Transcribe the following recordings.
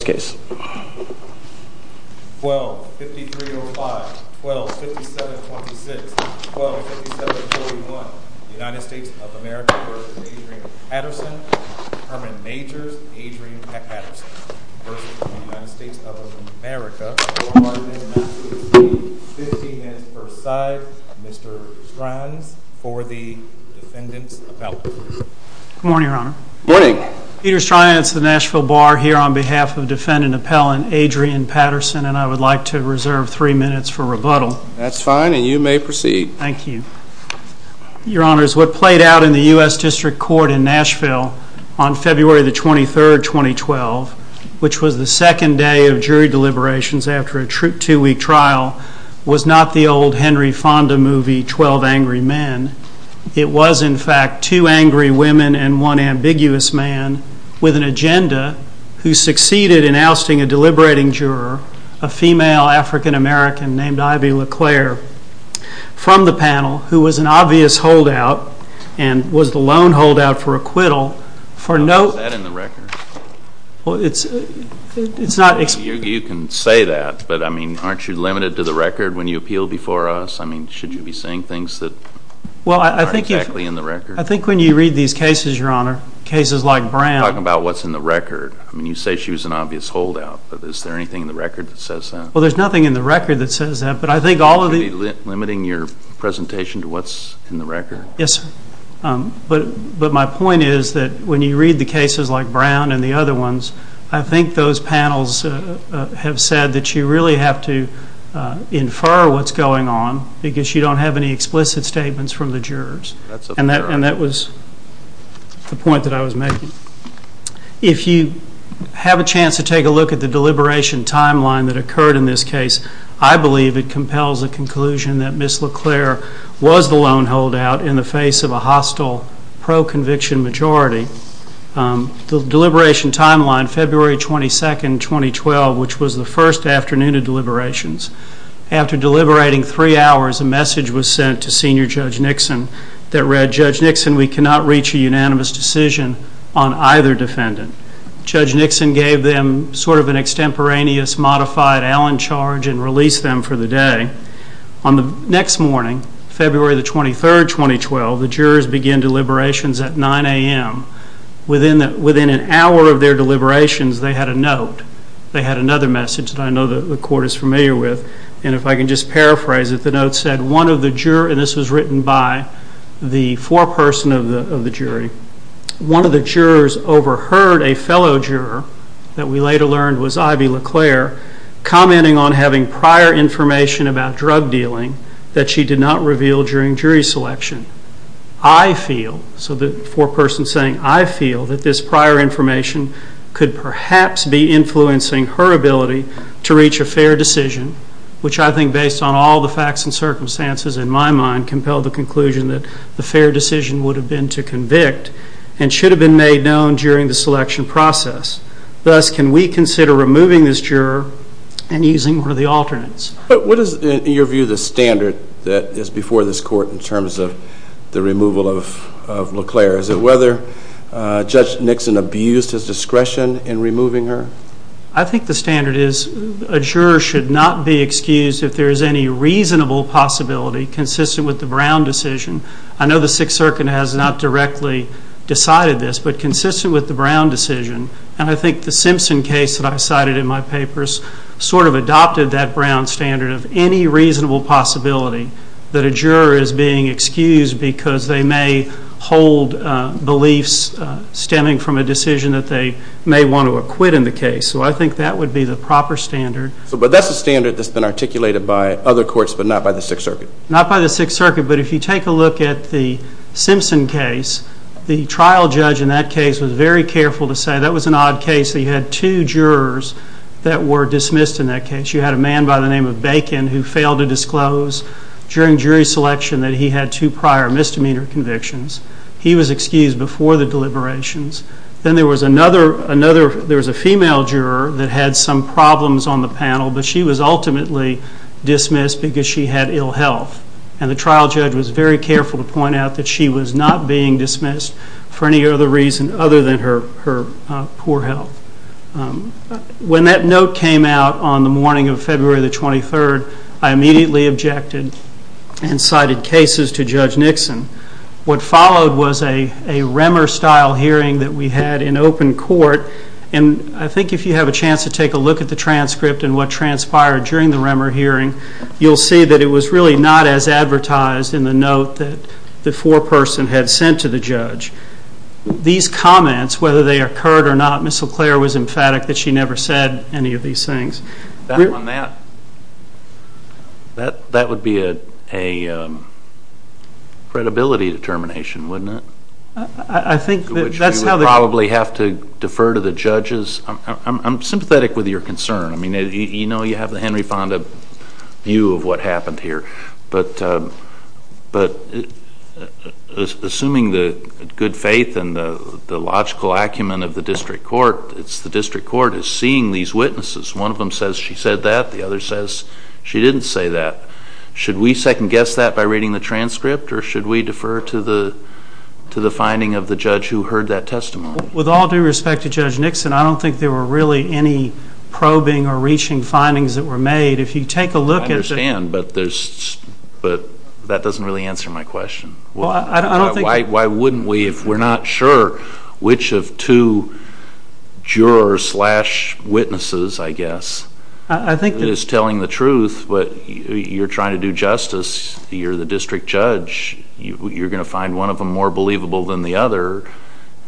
v. The United States of America, pardon me, not to exceed 15 minutes per side, Mr. Strines, for the defendant's appellate. Good morning, Your Honor. Good morning. Peter Strines, the Nashville Bar, here on behalf of defendant appellant Adrian Patterson, and I would like to reserve three minutes for rebuttal. That's fine, and you may proceed. Thank you. Your Honors, what played out in the U.S. District Court in Nashville on February the 23rd, 2012, which was the second day of jury deliberations after a two-week trial, was not the old Henry Fonda movie, Twelve Angry Men. It was, in fact, two angry women and one ambiguous man with an agenda who succeeded in ousting a deliberating juror, a female African-American named Ivy LeClaire, from the panel who was an obvious holdout and was the lone holdout for acquittal for no- Is that in the record? It's not- You can say that, but, I mean, aren't you limited to the record when you appeal before us? I mean, should you be saying things that aren't exactly in the record? I think when you read these cases, Your Honor, cases like Brown- You're talking about what's in the record. I mean, you say she was an obvious holdout, but is there anything in the record that says that? Well, there's nothing in the record that says that, but I think all of the- You should be limiting your presentation to what's in the record. Yes, but my point is that when you read the cases like Brown and the other ones, I think those panels have said that you really have to infer what's going on because you don't have any explicit statements from the jurors, and that was the point that I was making. If you have a chance to take a look at the deliberation timeline that occurred in this case, I believe it compels a conclusion that Ms. LeClaire was the lone holdout in the face of a hostile pro-conviction majority. The deliberation timeline, February 22, 2012, which was the first afternoon of deliberations. After deliberating three hours, a message was sent to Senior Judge Nixon that read, Judge Nixon, we cannot reach a unanimous decision on either defendant. Judge Nixon gave them sort of an extemporaneous modified Allen charge and released them for the day. On the next morning, February 23, 2012, the jurors began deliberations at 9 a.m. Within an hour of their deliberations, they had a note. They had another message that I know the court is familiar with, and if I can just paraphrase it, the note said, one of the jurors, and this was written by the foreperson of the jury, one of the jurors overheard a fellow juror that we later learned was Ivy LeClaire commenting on having prior information about drug dealing that she did not reveal during jury selection. I feel, so the foreperson is saying, I feel that this prior information could perhaps be influencing her ability to reach a fair decision, which I think, based on all the facts and circumstances in my mind, compelled the conclusion that the fair decision would have been to convict and should have been made known during the selection process. Thus, can we consider removing this juror and using one of the alternates? What is, in your view, the standard that is before this court in terms of the removal of LeClaire? Is it whether Judge Nixon abused his discretion in removing her? I think the standard is a juror should not be excused if there is any reasonable possibility consistent with the Brown decision. I know the Sixth Circuit has not directly decided this, but consistent with the Brown decision, and I think the Simpson case that I cited in my papers sort of adopted that Brown standard of any reasonable possibility that a juror is being excused because they may hold beliefs stemming from a decision that they may want to acquit in the case. So I think that would be the proper standard. But that's a standard that's been articulated by other courts, but not by the Sixth Circuit? Not by the Sixth Circuit, but if you take a look at the Simpson case, the trial judge in that case was very careful to say that was an odd case. He had two jurors that were dismissed in that case. You had a man by the name of Bacon who failed to disclose during jury selection that he had two prior misdemeanor convictions. He was excused before the deliberations. Then there was another, there was a female juror that had some problems on the panel, but she was ultimately dismissed because she had ill health. And the trial judge was very careful to point out that she was not being dismissed for any other reason other than her poor health. When that note came out on the morning of February the 23rd, I immediately objected and cited cases to Judge Nixon. What followed was a Remmer-style hearing that we had in open court, and I think if you have a chance to take a look at the transcript and what transpired during the Remmer hearing, you'll see that it was really not as advertised in the note that the foreperson had sent to the judge. These comments, whether they occurred or not, Ms. LeClaire was emphatic that she never said any of these things. That would be a credibility determination, wouldn't it? I think that's how they probably have to defer to the judges. I'm sympathetic with your concern. I mean, you know you have the Henry Fonda view of what happened here. But assuming the good faith and the logical acumen of the district court, it's the district court is seeing these witnesses. One of them says she said that, the other says she didn't say that. Should we second-guess that by reading the transcript, or should we defer to the finding of the judge who heard that testimony? With all due respect to Judge Nixon, I don't think there were really any probing or reaching findings that were made. I understand, but that doesn't really answer my question. Why wouldn't we if we're not sure which of two jurors slash witnesses, I guess, is telling the truth, but you're trying to do justice, you're the district judge, you're going to find one of them more believable than the other,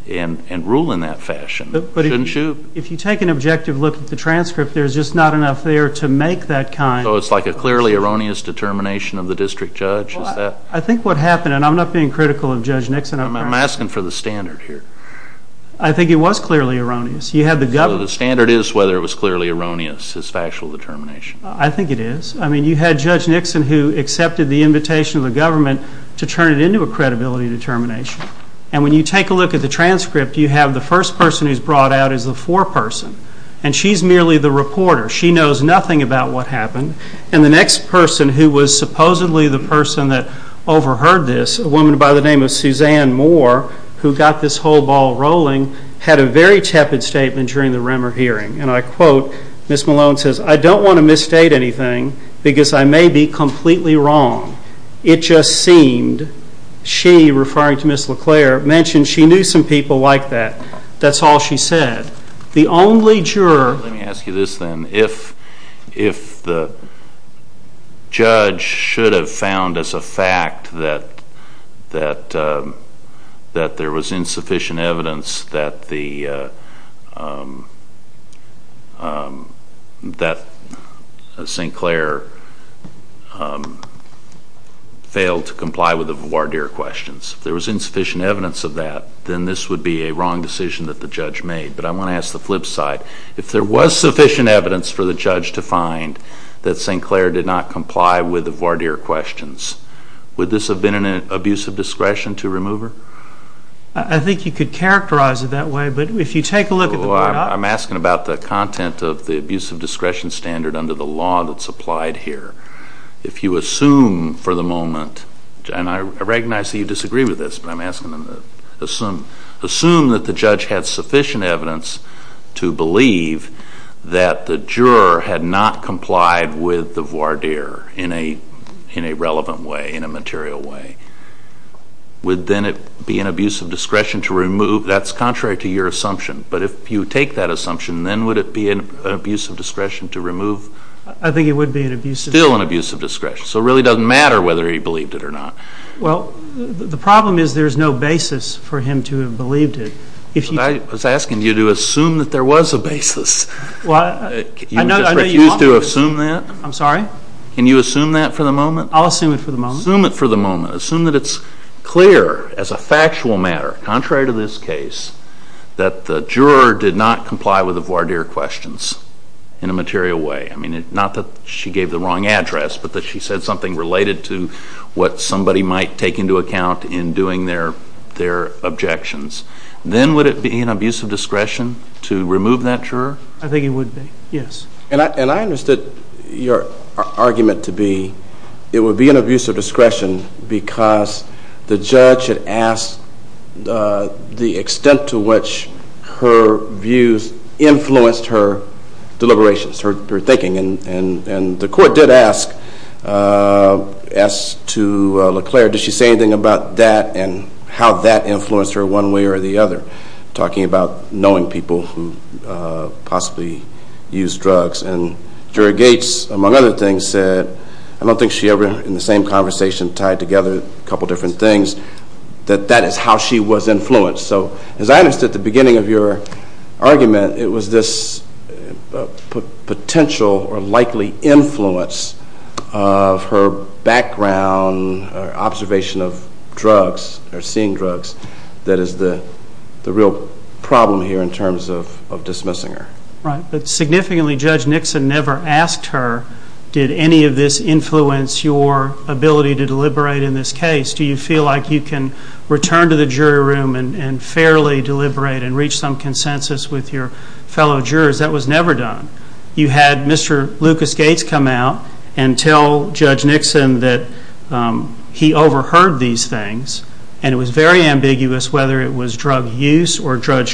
and rule in that fashion. If you take an objective look at the transcript, there's just not enough there to make that kind of judgment. So it's like a clearly erroneous determination of the district judge, is that? I think what happened, and I'm not being critical of Judge Nixon, I'm asking for the standard here. I think it was clearly erroneous. You had the government. So the standard is whether it was clearly erroneous, his factual determination. I think it is. I mean, you had Judge Nixon who accepted the invitation of the government to turn it into a credibility determination. And when you take a look at the transcript, you have the first person who's brought out as the foreperson, and she's merely the reporter. She knows nothing about what happened. And the next person who was supposedly the person that overheard this, a woman by the name of Suzanne Moore, who got this whole ball rolling, had a very tepid statement during the Remmer hearing. And I quote, Ms. Malone says, I don't want to misstate anything because I may be completely wrong. It just seemed she, referring to Ms. LeClaire, mentioned she knew some people like that. That's all she said. The only juror... Let me ask you this then. If the judge should have found as a fact that there was insufficient evidence that St. Clair failed to comply with the voir dire questions, if there was insufficient evidence of that, then this would be a wrong decision that the judge made. But I want to ask the flip side. If there was sufficient evidence for the judge to find that St. Clair did not comply with the voir dire questions, would this have been an abuse of discretion to remove her? I think you could characterize it that way, but if you take a look at the... I'm asking about the content of the abuse of discretion standard under the law that's applied here. If you assume for the moment, and I recognize that you disagree with this, but I'm asking the question, assume that the judge had sufficient evidence to believe that the juror had not complied with the voir dire in a relevant way, in a material way, would then it be an abuse of discretion to remove... That's contrary to your assumption. But if you take that assumption, then would it be an abuse of discretion to remove... I think it would be an abuse of discretion. Still an abuse of discretion. So it really doesn't matter whether he believed it or not. Well, the problem is there's no basis for him to have believed it. If you... I was asking you to assume that there was a basis. You just refuse to assume that? I'm sorry? Can you assume that for the moment? I'll assume it for the moment. Assume it for the moment. Assume that it's clear as a factual matter, contrary to this case, that the juror did not comply with the voir dire questions in a material way. I mean, not that she gave the wrong address, but that she said something related to what somebody might take into account in doing their objections. Then would it be an abuse of discretion to remove that juror? I think it would be, yes. And I understood your argument to be it would be an abuse of discretion because the judge had asked the extent to which her views influenced her deliberations, her thinking. And the court did ask to LeClaire, did she say anything about that and how that influenced her one way or the other, talking about knowing people who possibly use drugs. And Juror Gates, among other things, said, I don't think she ever, in the same conversation, tied together a couple different things, that that is how she was influenced. So as I understood at the beginning of your argument, it was this potential or likely influence of her background or observation of drugs or seeing drugs that is the real problem here in terms of dismissing her. Right. But significantly, Judge Nixon never asked her, did any of this influence your ability to deliberate in this case? Do you feel like you can return to the jury room and fairly deliberate and reach some consensus with your fellow jurors? That was never done. You had Mr. Lucas Gates come out and tell Judge Nixon that he overheard these things and it was very ambiguous whether it was drug use or drug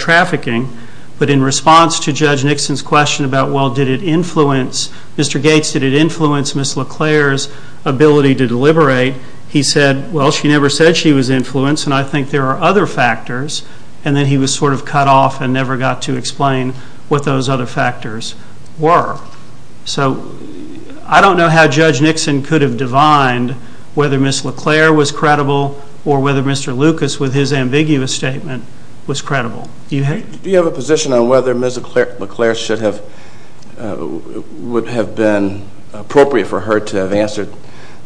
trafficking. But in response to Judge Nixon's question about, well, did it influence, Mr. Gates, did it influence Ms. LeClaire's ability to deliberate, he said, well, she never said she was influenced and I think there are other factors. And then he was sort of cut off and never got to explain what those other factors were. So I don't know how Judge Nixon could have divined whether Ms. LeClaire was credible or whether Mr. Lucas, with his ambiguous statement, was credible. Do you have a position on whether Ms. LeClaire should have, would have been appropriate for her to have answered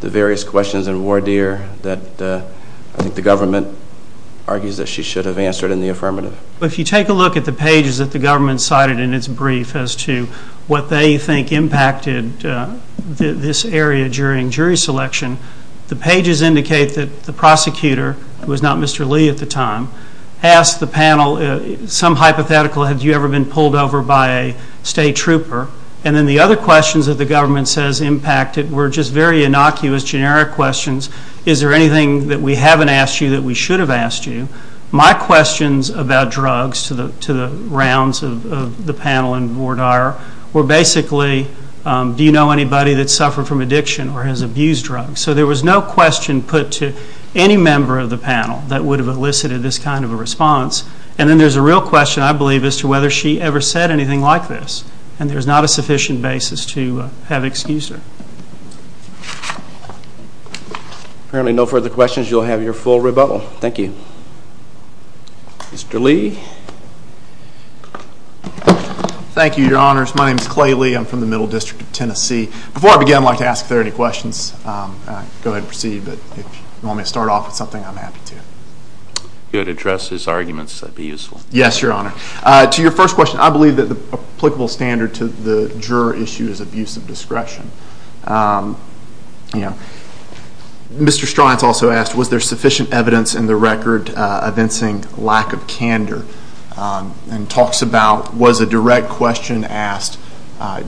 the various questions in voir dire that I think the government argues that she should have answered in the affirmative? If you take a look at the pages that the government cited in its brief as to what they think impacted this area during jury selection, the pages indicate that the prosecutor, who was not some hypothetical, had you ever been pulled over by a state trooper? And then the other questions that the government says impacted were just very innocuous, generic questions. Is there anything that we haven't asked you that we should have asked you? My questions about drugs to the rounds of the panel in voir dire were basically do you know anybody that suffered from addiction or has abused drugs? So there was no question put to any member of the panel that would have elicited this kind of a response. And then there's a real question, I believe, as to whether she ever said anything like this. And there's not a sufficient basis to have excused her. Apparently no further questions, you'll have your full rebuttal. Thank you. Mr. Lee. Thank you, your honors. My name is Clay Lee. I'm from the Middle District of Tennessee. Before I begin, I'd like to ask if there are any questions. Go ahead and proceed. But if you want me to start off with something, I'm happy to. You had addressed his arguments. That'd be useful. Yes, your honor. To your first question, I believe that the applicable standard to the juror issue is abuse of discretion. Mr. Striance also asked, was there sufficient evidence in the record evincing lack of candor? And talks about, was a direct question asked,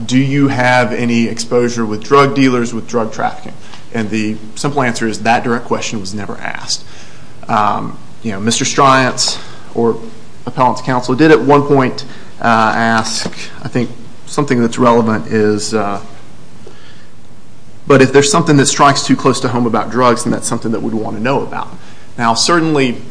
do you have any exposure with drug dealers with drug trafficking? And the simple answer is that direct question was never asked. Mr. Striance or appellant's counsel did at one point ask, I think something that's relevant is, but if there's something that strikes too close to home about drugs, then that's something that we'd want to know about. Now certainly,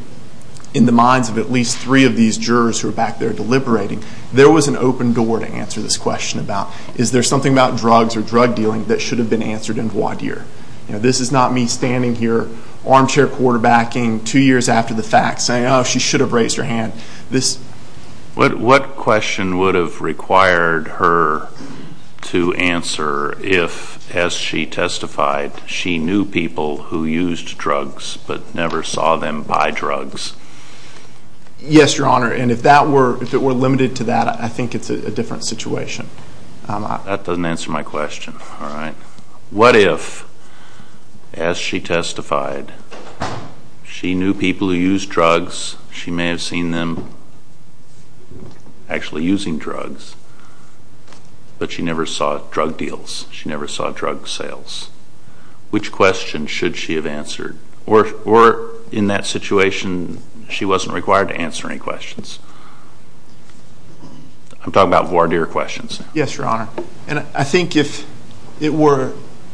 in the minds of at least three of these jurors who are back there deliberating, there was an open door to answer this question about, is there something about drugs or drug dealing that should have been answered in voir dire? This is not me standing here, armchair quarterbacking two years after the fact, saying, oh, she should have raised her hand. What question would have required her to answer if, as she testified, she knew people who used drugs, but never saw them buy drugs? Yes, your honor, and if it were limited to that, I think it's a different situation. That doesn't answer my question. All right. What if, as she testified, she knew people who used drugs, she may have seen them actually using drugs, but she never saw drug deals, she never saw drug sales? Which question should she have answered? Or in that situation, she wasn't required to answer any questions? I'm talking about voir dire questions. Yes, your honor. And I think if it were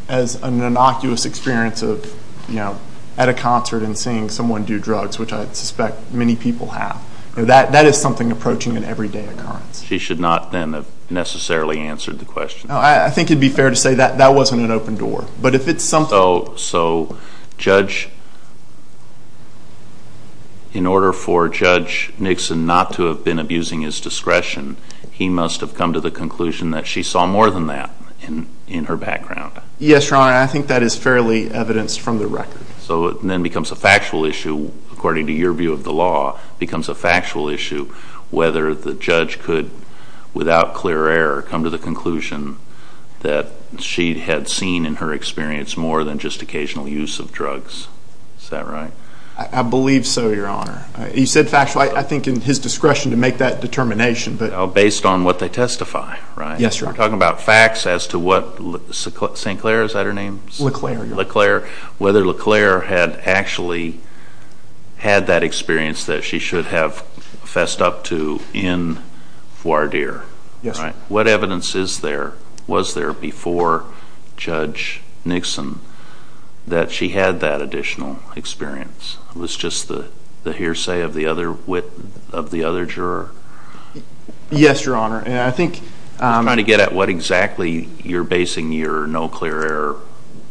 as an innocuous experience of, you know, at a concert and seeing someone do drugs, which I suspect many people have, that is something approaching an everyday occurrence. She should not then have necessarily answered the question. I think it would be fair to say that that wasn't an open door, but if it's something So, judge, in order for Judge Nixon not to have been abusing his discretion, he must have come to the conclusion that she saw more than that in her background. Yes, your honor. I think that is fairly evidenced from the record. So it then becomes a factual issue, according to your view of the law, becomes a factual issue whether the judge could, without clear error, come to the conclusion that she had seen in her experience more than just occasional use of drugs. Is that right? I believe so, your honor. You said factual. I think in his discretion to make that determination, but Based on what they testify, right? Yes, your honor. We're talking about facts as to what St. Clair, is that her name? LeClaire. LeClaire. Whether LeClaire had actually had that experience that she should have fessed up to in voir dire. Yes, your honor. What evidence is there, was there before Judge Nixon that she had that additional experience? Was just the hearsay of the other wit of the other juror? Yes, your honor. I think Trying to get at what exactly you're basing your no clear error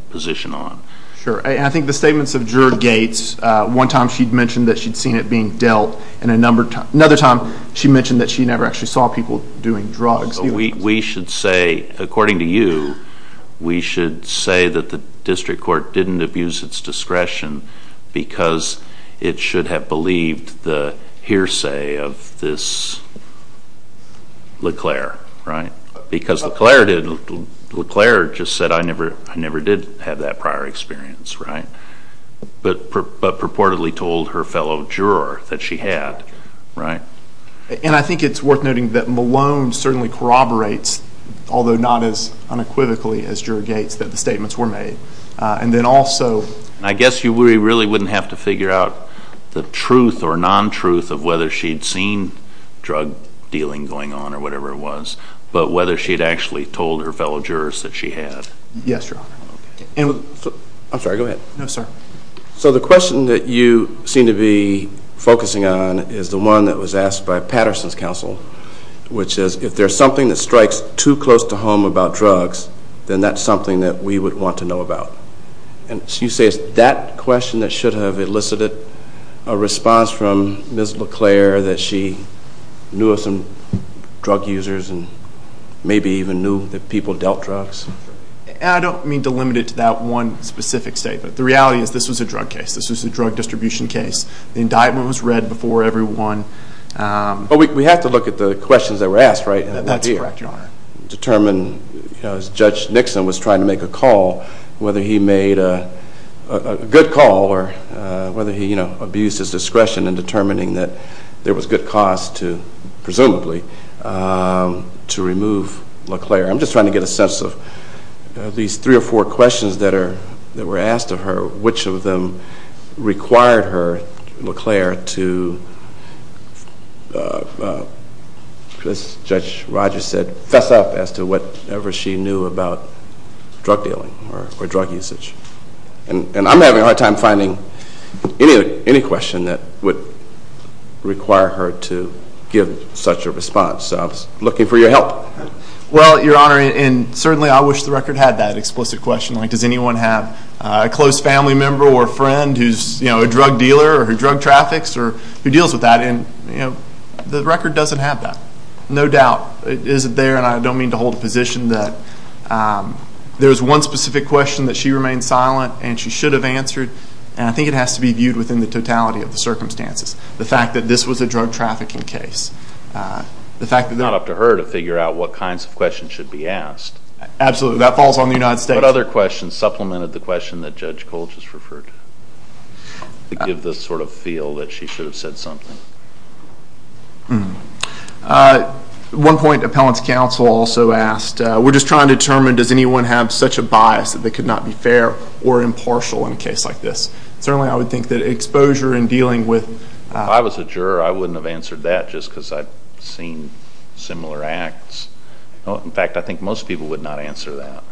position on. Sure. I think the statements of Juror Gates, one time she'd mentioned that she'd seen it being dealt and another time she mentioned that she never actually saw people doing drugs. We should say, according to you, we should say that the district court didn't abuse its discretion, because it should have believed the hearsay of this LeClaire, right? Because LeClaire did, LeClaire just said I never did have that prior experience, right? But purportedly told her fellow juror that she had, right? And I think it's worth noting that Malone certainly corroborates, although not as unequivocally as Juror Gates, that the statements were made. And then also I guess you really wouldn't have to figure out the truth or non-truth of whether she'd seen drug dealing going on or whatever it was, but whether she'd actually told her fellow jurors that she had. Yes, your honor. I'm sorry, go ahead. So the question that you seem to be focusing on is the one that was asked by Patterson's counsel, which is if there's something that strikes too close to home about drugs, then that's something that we would want to know about. And so you say it's that question that should have elicited a response from Ms. LeClaire that she knew of some drug users and maybe even knew that people dealt drugs? And I don't mean to limit it to that one specific statement. The reality is this was a drug case. This was a drug distribution case. The indictment was read before everyone. But we have to look at the questions that were asked, right? That's correct, your honor. And determine, as Judge Nixon was trying to make a call, whether he made a good call or whether he abused his discretion in determining that there was good cause to, presumably, to remove LeClaire. I'm just trying to get a sense of these three or four questions that were asked of her, which of them required her, LeClaire, to, as Judge Rogers said, fess up as to whatever she knew about drug dealing or drug usage. And I'm having a hard time finding any question that would require her to give such a response. So I was looking for your help. Well, your honor, and certainly I wish the record had that explicit question. Like, does anyone have a close family member or friend who's a drug dealer or who drug traffics or who deals with that? And the record doesn't have that. No doubt. It isn't there. And I don't mean to hold a position that there's one specific question that she remained silent and she should have answered. And I think it has to be viewed within the totality of the circumstances. The fact that this was a drug trafficking case. The fact that it's not up to her to figure out what kinds of questions should be asked. Absolutely. That falls on the United States. What other questions supplemented the question that Judge Kolch has referred to, to give the sort of feel that she should have said something? One point, Appellant's counsel also asked, we're just trying to determine does anyone have such a bias that they could not be fair or impartial in a case like this? Certainly I would think that exposure in dealing with- If I was a juror, I wouldn't have answered that just because I've seen similar acts. In fact, I think most people would not answer that.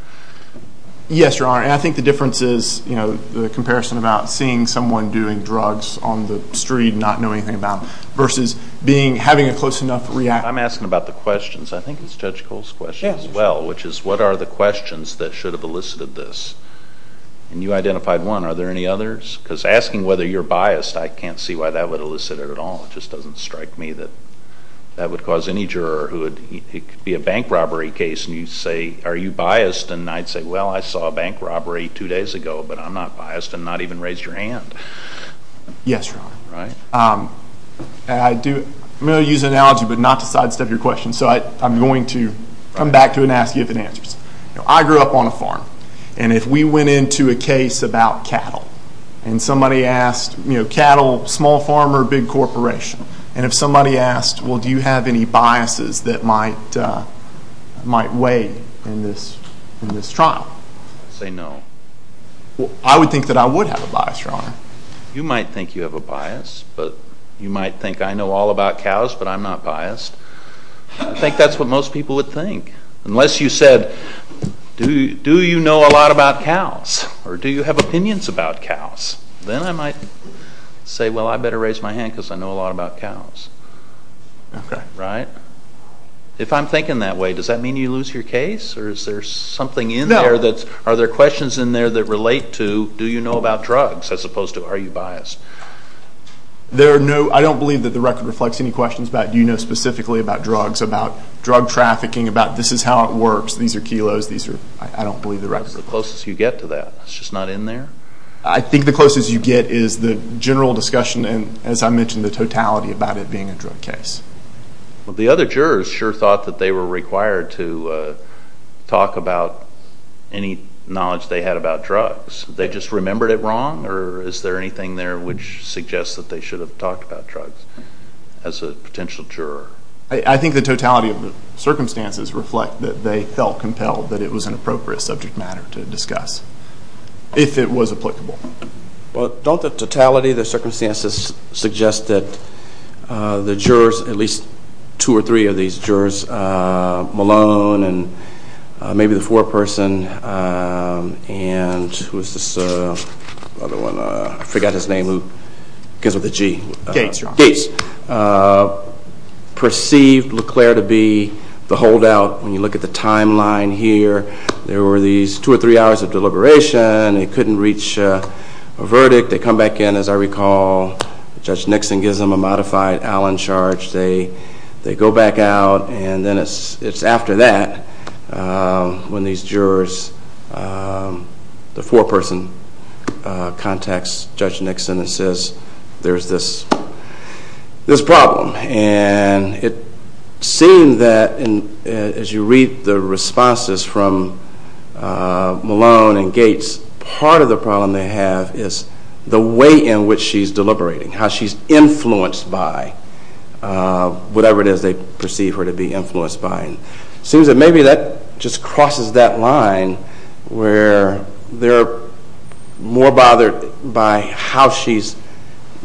Yes, Your Honor. And I think the difference is, you know, the comparison about seeing someone doing drugs on the street and not knowing anything about it, versus having a close enough reaction. I'm asking about the questions. I think it's Judge Kolch's question as well, which is what are the questions that should have elicited this? And you identified one. Are there any others? Because asking whether you're biased, I can't see why that would elicit it at all. It just doesn't strike me that that would cause any juror who would- it could be a bank robbery case and you say, are you biased? And I'd say, well, I saw a bank robbery two days ago, but I'm not biased and not even raised your hand. Yes, Your Honor. Right? And I do- I'm going to use an analogy, but not to sidestep your question, so I'm going to come back to it and ask you if it answers. I grew up on a farm, and if we went into a case about cattle and somebody asked, you And if somebody asked, well, do you have any biases that might weigh in this trial? I'd say no. I would think that I would have a bias, Your Honor. You might think you have a bias, but you might think, I know all about cows, but I'm not biased. I think that's what most people would think, unless you said, do you know a lot about cows or do you have opinions about cows? Then I might say, well, I better raise my hand because I know a lot about cows. Okay. Right? If I'm thinking that way, does that mean you lose your case or is there something in there that's- No. Are there questions in there that relate to, do you know about drugs, as opposed to are you biased? There are no- I don't believe that the record reflects any questions about do you know specifically about drugs, about drug trafficking, about this is how it works, these are kilos, these are- I don't believe the record- What's the closest you get to that? It's just not in there? I think the closest you get is the general discussion and, as I mentioned, the totality about it being a drug case. The other jurors sure thought that they were required to talk about any knowledge they had about drugs. They just remembered it wrong or is there anything there which suggests that they should have talked about drugs as a potential juror? I think the totality of the circumstances reflect that they felt compelled that it was an appropriate subject matter to discuss. If it was applicable. Well, don't the totality of the circumstances suggest that the jurors, at least two or three of these jurors, Malone and maybe the foreperson, and who is this other one, I forgot his name, who comes with a G. Gates, your honor. Gates. Perceived LeClair to be the holdout. When you look at the timeline here, there were these two or three hours of deliberation. They couldn't reach a verdict. They come back in, as I recall, Judge Nixon gives them a modified Allen charge. They go back out and then it's after that when these jurors, the foreperson, contacts Judge Nixon and says, there's this problem. And it seemed that, as you read the responses from Malone and Gates, part of the problem they have is the way in which she's deliberating, how she's influenced by whatever it is they perceive her to be influenced by. It seems that maybe that just crosses that line where they're more bothered by how she's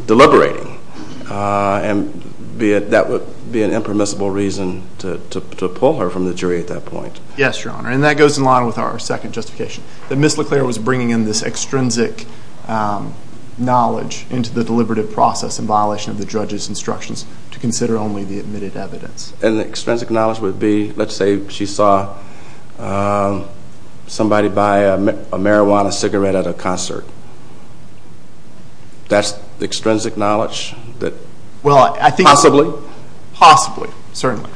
deliberating. And that would be an impermissible reason to pull her from the jury at that point. Yes, your honor. And that goes in line with our second justification, that Ms. LeClair was bringing in this extrinsic knowledge into the deliberative process in violation of the judge's instructions to consider only the admitted evidence. And the extrinsic knowledge would be, let's say she saw somebody buy a marijuana cigarette at a concert. That's the extrinsic knowledge that, possibly? Possibly, certainly.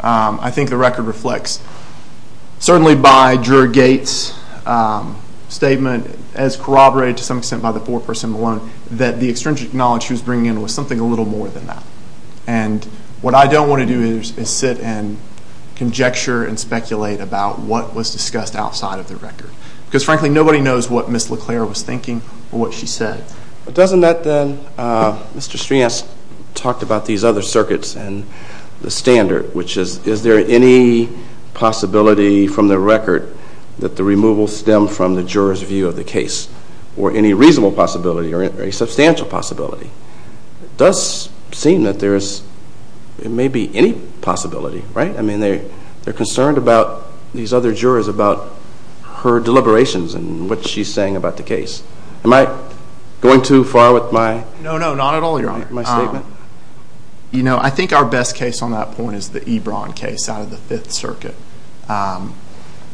I think the record reflects, certainly by juror Gates' statement, as corroborated to some extent by the foreperson Malone, that the extrinsic knowledge she was bringing in was something a little more than that. And what I don't want to do is sit and conjecture and speculate about what was discussed outside of the record. Because, frankly, nobody knows what Ms. LeClair was thinking or what she said. But doesn't that, then, Mr. Strians talked about these other circuits and the standard, which is, is there any possibility from the record that the removal stemmed from the juror's view of the case? Or any reasonable possibility or any substantial possibility? It does seem that there is, it may be any possibility, right? I mean, they're concerned about these other jurors, about her deliberations and what she's saying about the case. Am I going too far with my statement? No, no, not at all, Your Honor. You know, I think our best case on that point is the Ebron case out of the Fifth Circuit,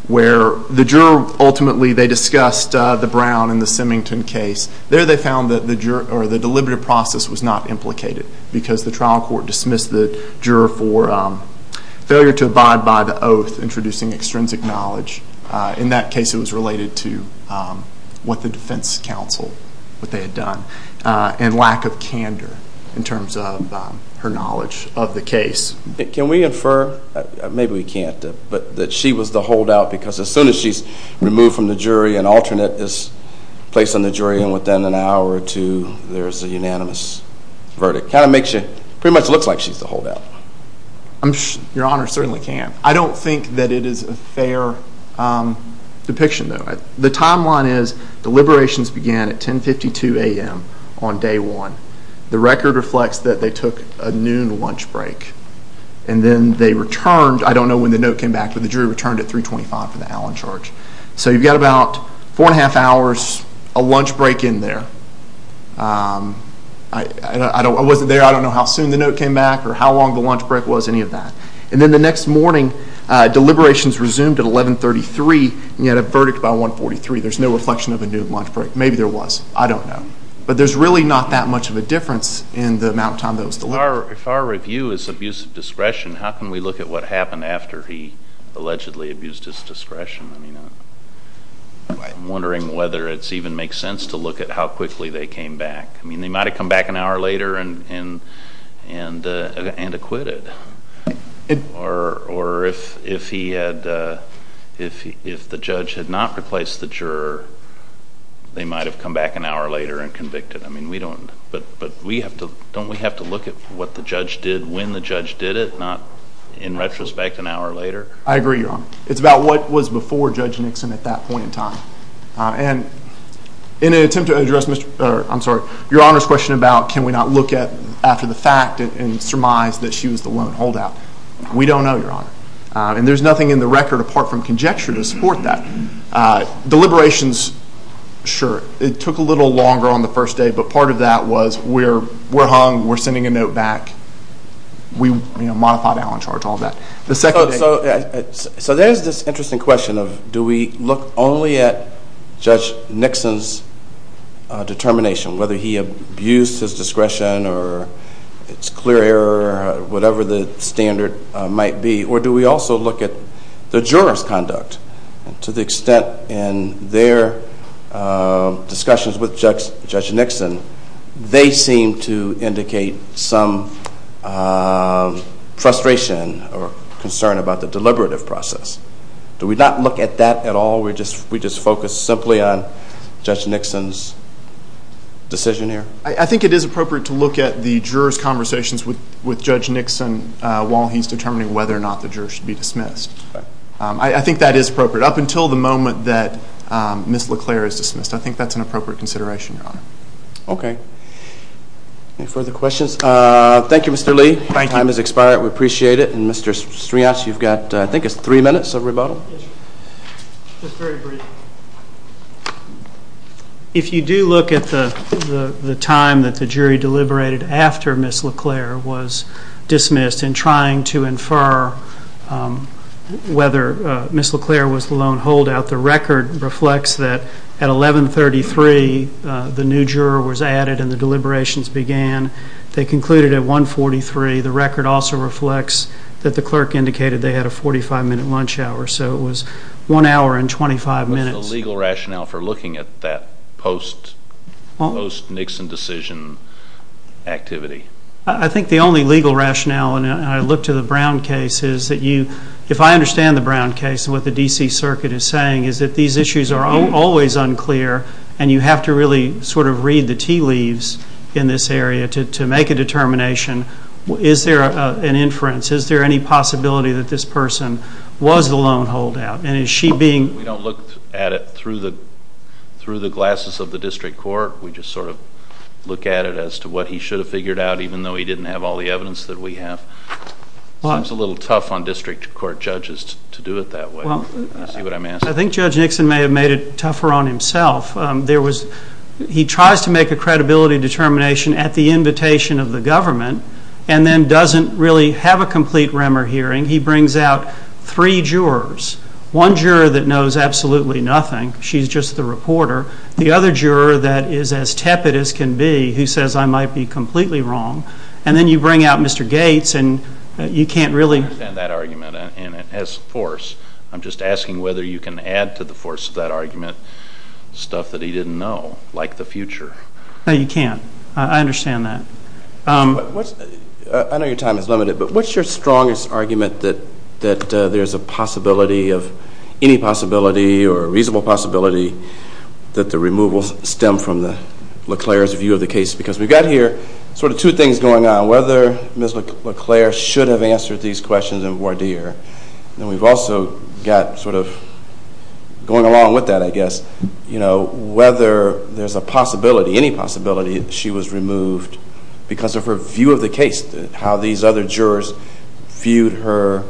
where the juror, ultimately, they discussed the Brown and the Semington case. There they found that the deliberative process was not implicated, because the trial court dismissed the juror for failure to abide by the oath introducing extrinsic knowledge. In that case, it was related to what the defense counsel, what they had done, and lack of candor in terms of her knowledge of the case. Can we infer, maybe we can't, but that she was the holdout because as soon as she's removed from the jury, an alternate is placed on the jury, and within an hour or two, there's a unanimous verdict. Kind of makes you, pretty much looks like she's the holdout. Your Honor, certainly can. I don't think that it is a fair depiction, though. The timeline is deliberations began at 10.52 a.m. on day one. The record reflects that they took a noon lunch break, and then they returned, I don't know when the note came back, but the jury returned at 3.25 for the Allen charge. So you've got about four and a half hours, a lunch break in there. I wasn't there, I don't know how soon the note came back or how long the lunch break was, any of that. And then the next morning, deliberations resumed at 11.33, and you had a verdict by 1.43. There's no reflection of a noon lunch break. Maybe there was. I don't know. But there's really not that much of a difference in the amount of time that was delivered. If our review is abuse of discretion, how can we look at what happened after he allegedly abused his discretion? I'm wondering whether it even makes sense to look at how quickly they came back. I mean, they might have come back an hour later and acquitted. Or if the judge had not replaced the juror, they might have come back an hour later and convicted. But don't we have to look at what the judge did, when the judge did it, not in retrospect an hour later? I agree, Your Honor. It's about what was before Judge Nixon at that point in time. And in an attempt to address, I'm sorry, Your Honor's question about can we not look at after the fact and surmise that she was the lone holdout, we don't know, Your Honor. And there's nothing in the record apart from conjecture to support that. Deliberations, sure, it took a little longer on the first day. But part of that was, we're hung, we're sending a note back, we modified Allen charge, all that. So there's this interesting question of do we look only at Judge Nixon's determination, whether he abused his discretion or it's clear error, whatever the standard might be. Or do we also look at the juror's conduct? To the extent in their discussions with Judge Nixon, they seem to indicate some frustration or concern about the deliberative process. Do we not look at that at all? We just focus simply on Judge Nixon's decision here? I think it is appropriate to look at the juror's conversations with Judge Nixon while he's determining whether or not the juror should be dismissed. I think that is appropriate. Up until the moment that Ms. LeClaire is dismissed, I think that's an appropriate consideration, Your Honor. Okay. Any further questions? Thank you, Mr. Lee. Thank you. Your time has expired. We appreciate it. And Mr. Strians, you've got, I think it's three minutes of rebuttal. If you do look at the time that the jury deliberated after Ms. LeClaire was dismissed in trying to infer whether Ms. LeClaire was the lone holdout, the record reflects that at 11.33 the new juror was added and the deliberations began. They concluded at 1.43. The record also reflects that the clerk indicated they had a 45-minute lunch hour, so it was one hour and 25 minutes. What is the legal rationale for looking at that post-Nixon decision activity? I think the only legal rationale, and I look to the Brown case, is that you, if I understand the Brown case and what the D.C. Circuit is saying, is that these issues are always unclear and you have to really sort of read the tea leaves in this area to make a determination. Is there an inference? Is there any possibility that this person was the lone holdout? And is she being? We don't look at it through the glasses of the district court. We just sort of look at it as to what he should have figured out, even though he didn't have all the evidence that we have. It seems a little tough on district court judges to do it that way, is what I'm asking. I think Judge Nixon may have made it tougher on himself. He tries to make a credibility determination at the invitation of the government and then doesn't really have a complete remor hearing. He brings out three jurors. One juror that knows absolutely nothing. She's just the reporter. The other juror that is as tepid as can be, who says I might be completely wrong. And then you bring out Mr. Gates and you can't really- I understand that argument and it has force. I'm just asking whether you can add to the force of that argument stuff that he didn't know, like the future. No, you can't. I understand that. I know your time is limited, but what's your strongest argument that there's a possibility of any possibility or a reasonable possibility that the removal stemmed from LeClaire's view of the case? Because we've got here sort of two things going on, whether Ms. LeClaire should have got sort of going along with that, I guess, whether there's a possibility, any possibility she was removed because of her view of the case, how these other jurors viewed her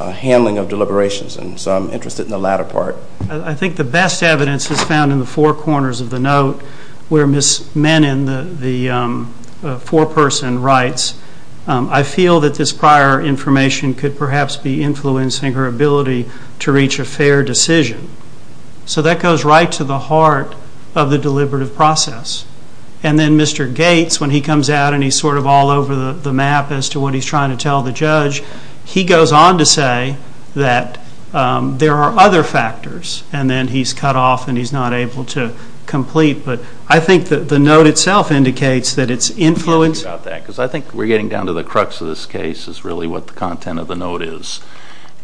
handling of deliberations. And so I'm interested in the latter part. I think the best evidence is found in the four corners of the note where Ms. Menon, the foreperson, writes, I feel that this prior information could perhaps be influencing her ability to reach a fair decision. So that goes right to the heart of the deliberative process. And then Mr. Gates, when he comes out and he's sort of all over the map as to what he's trying to tell the judge, he goes on to say that there are other factors, and then he's cut off and he's not able to complete. But I think that the note itself indicates that it's influenced. I'm happy about that because I think we're getting down to the crux of this case is really what the content of the note is.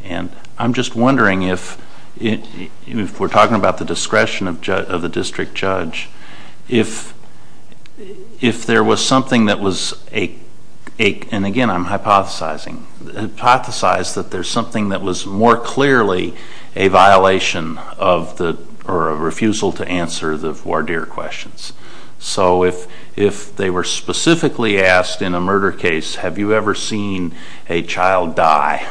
And I'm just wondering if we're talking about the discretion of the district judge, if there was something that was, and again I'm hypothesizing, hypothesize that there's something that was more clearly a violation of the, or a refusal to answer the voir dire questions. So if they were specifically asked in a murder case, have you ever seen a child die?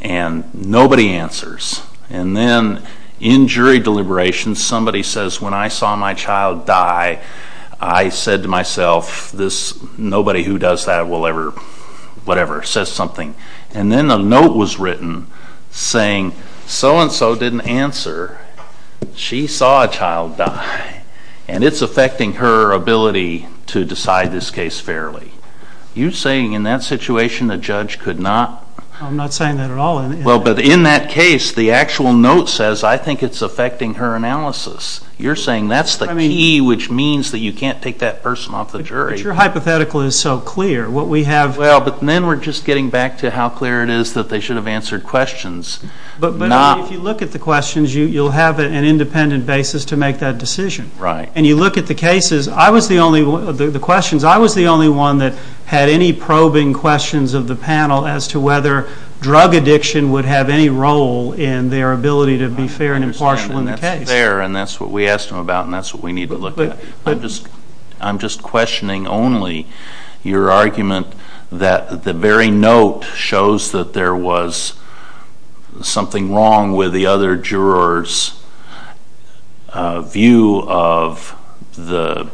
And nobody answers. And then in jury deliberations, somebody says, when I saw my child die, I said to myself, this nobody who does that will ever, whatever, says something. And then a note was written saying, so and so didn't answer. She saw a child die. And it's affecting her ability to decide this case fairly. You're saying in that situation, a judge could not? I'm not saying that at all. Well, but in that case, the actual note says, I think it's affecting her analysis. You're saying that's the key, which means that you can't take that person off the jury. But your hypothetical is so clear. What we have. Well, but then we're just getting back to how clear it is that they should have answered questions. But if you look at the questions, you'll have an independent basis to make that decision. Right. And you look at the cases, I was the only one, the questions, I was the only one that had any probing questions of the panel as to whether drug addiction would have any role in their ability to be fair and impartial in the case. Fair, and that's what we asked them about, and that's what we need to look at. I'm just questioning only your argument that the very note shows that there was something wrong with the other juror's view of the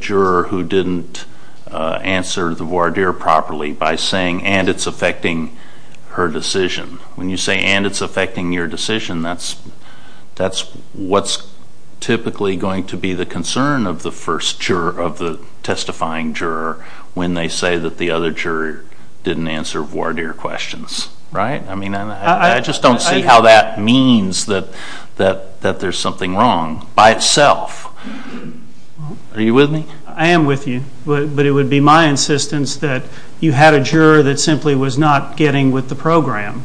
juror who didn't answer the voir dire properly by saying, and it's affecting her decision. When you say, and it's affecting your decision, that's what's typically going to be the concern of the first juror, of the testifying juror, when they say that the other juror didn't answer voir dire questions. Right? I mean, I just don't see how that means that there's something wrong by itself. Are you with me? I am with you, but it would be my insistence that you had a juror that simply was not getting with the program,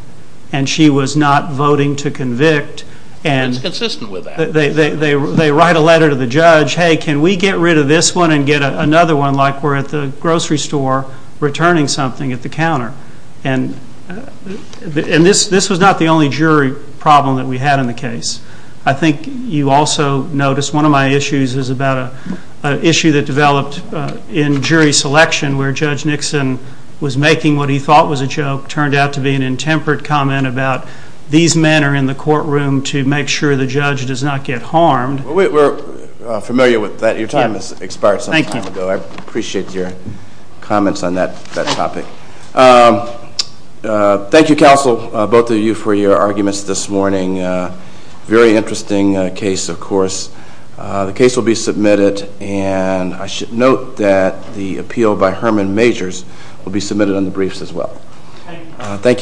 and she was not voting to convict. And it's consistent with that. They write a letter to the judge, hey, can we get rid of this one and get another one like we're at the grocery store returning something at the counter? And this was not the only jury problem that we had in the case. I think you also noticed one of my issues is about an issue that developed in jury selection where Judge Nixon was making what he thought was a joke turned out to be an intemperate comment about these men are in the courtroom to make sure the judge does not get harmed. We're familiar with that. Your time has expired some time ago. I appreciate your comments on that topic. Thank you, counsel, both of you for your arguments this morning. Very interesting case, of course. The case will be submitted, and I should note that the appeal by Herman Majors will be submitted on the briefs as well. Thank you.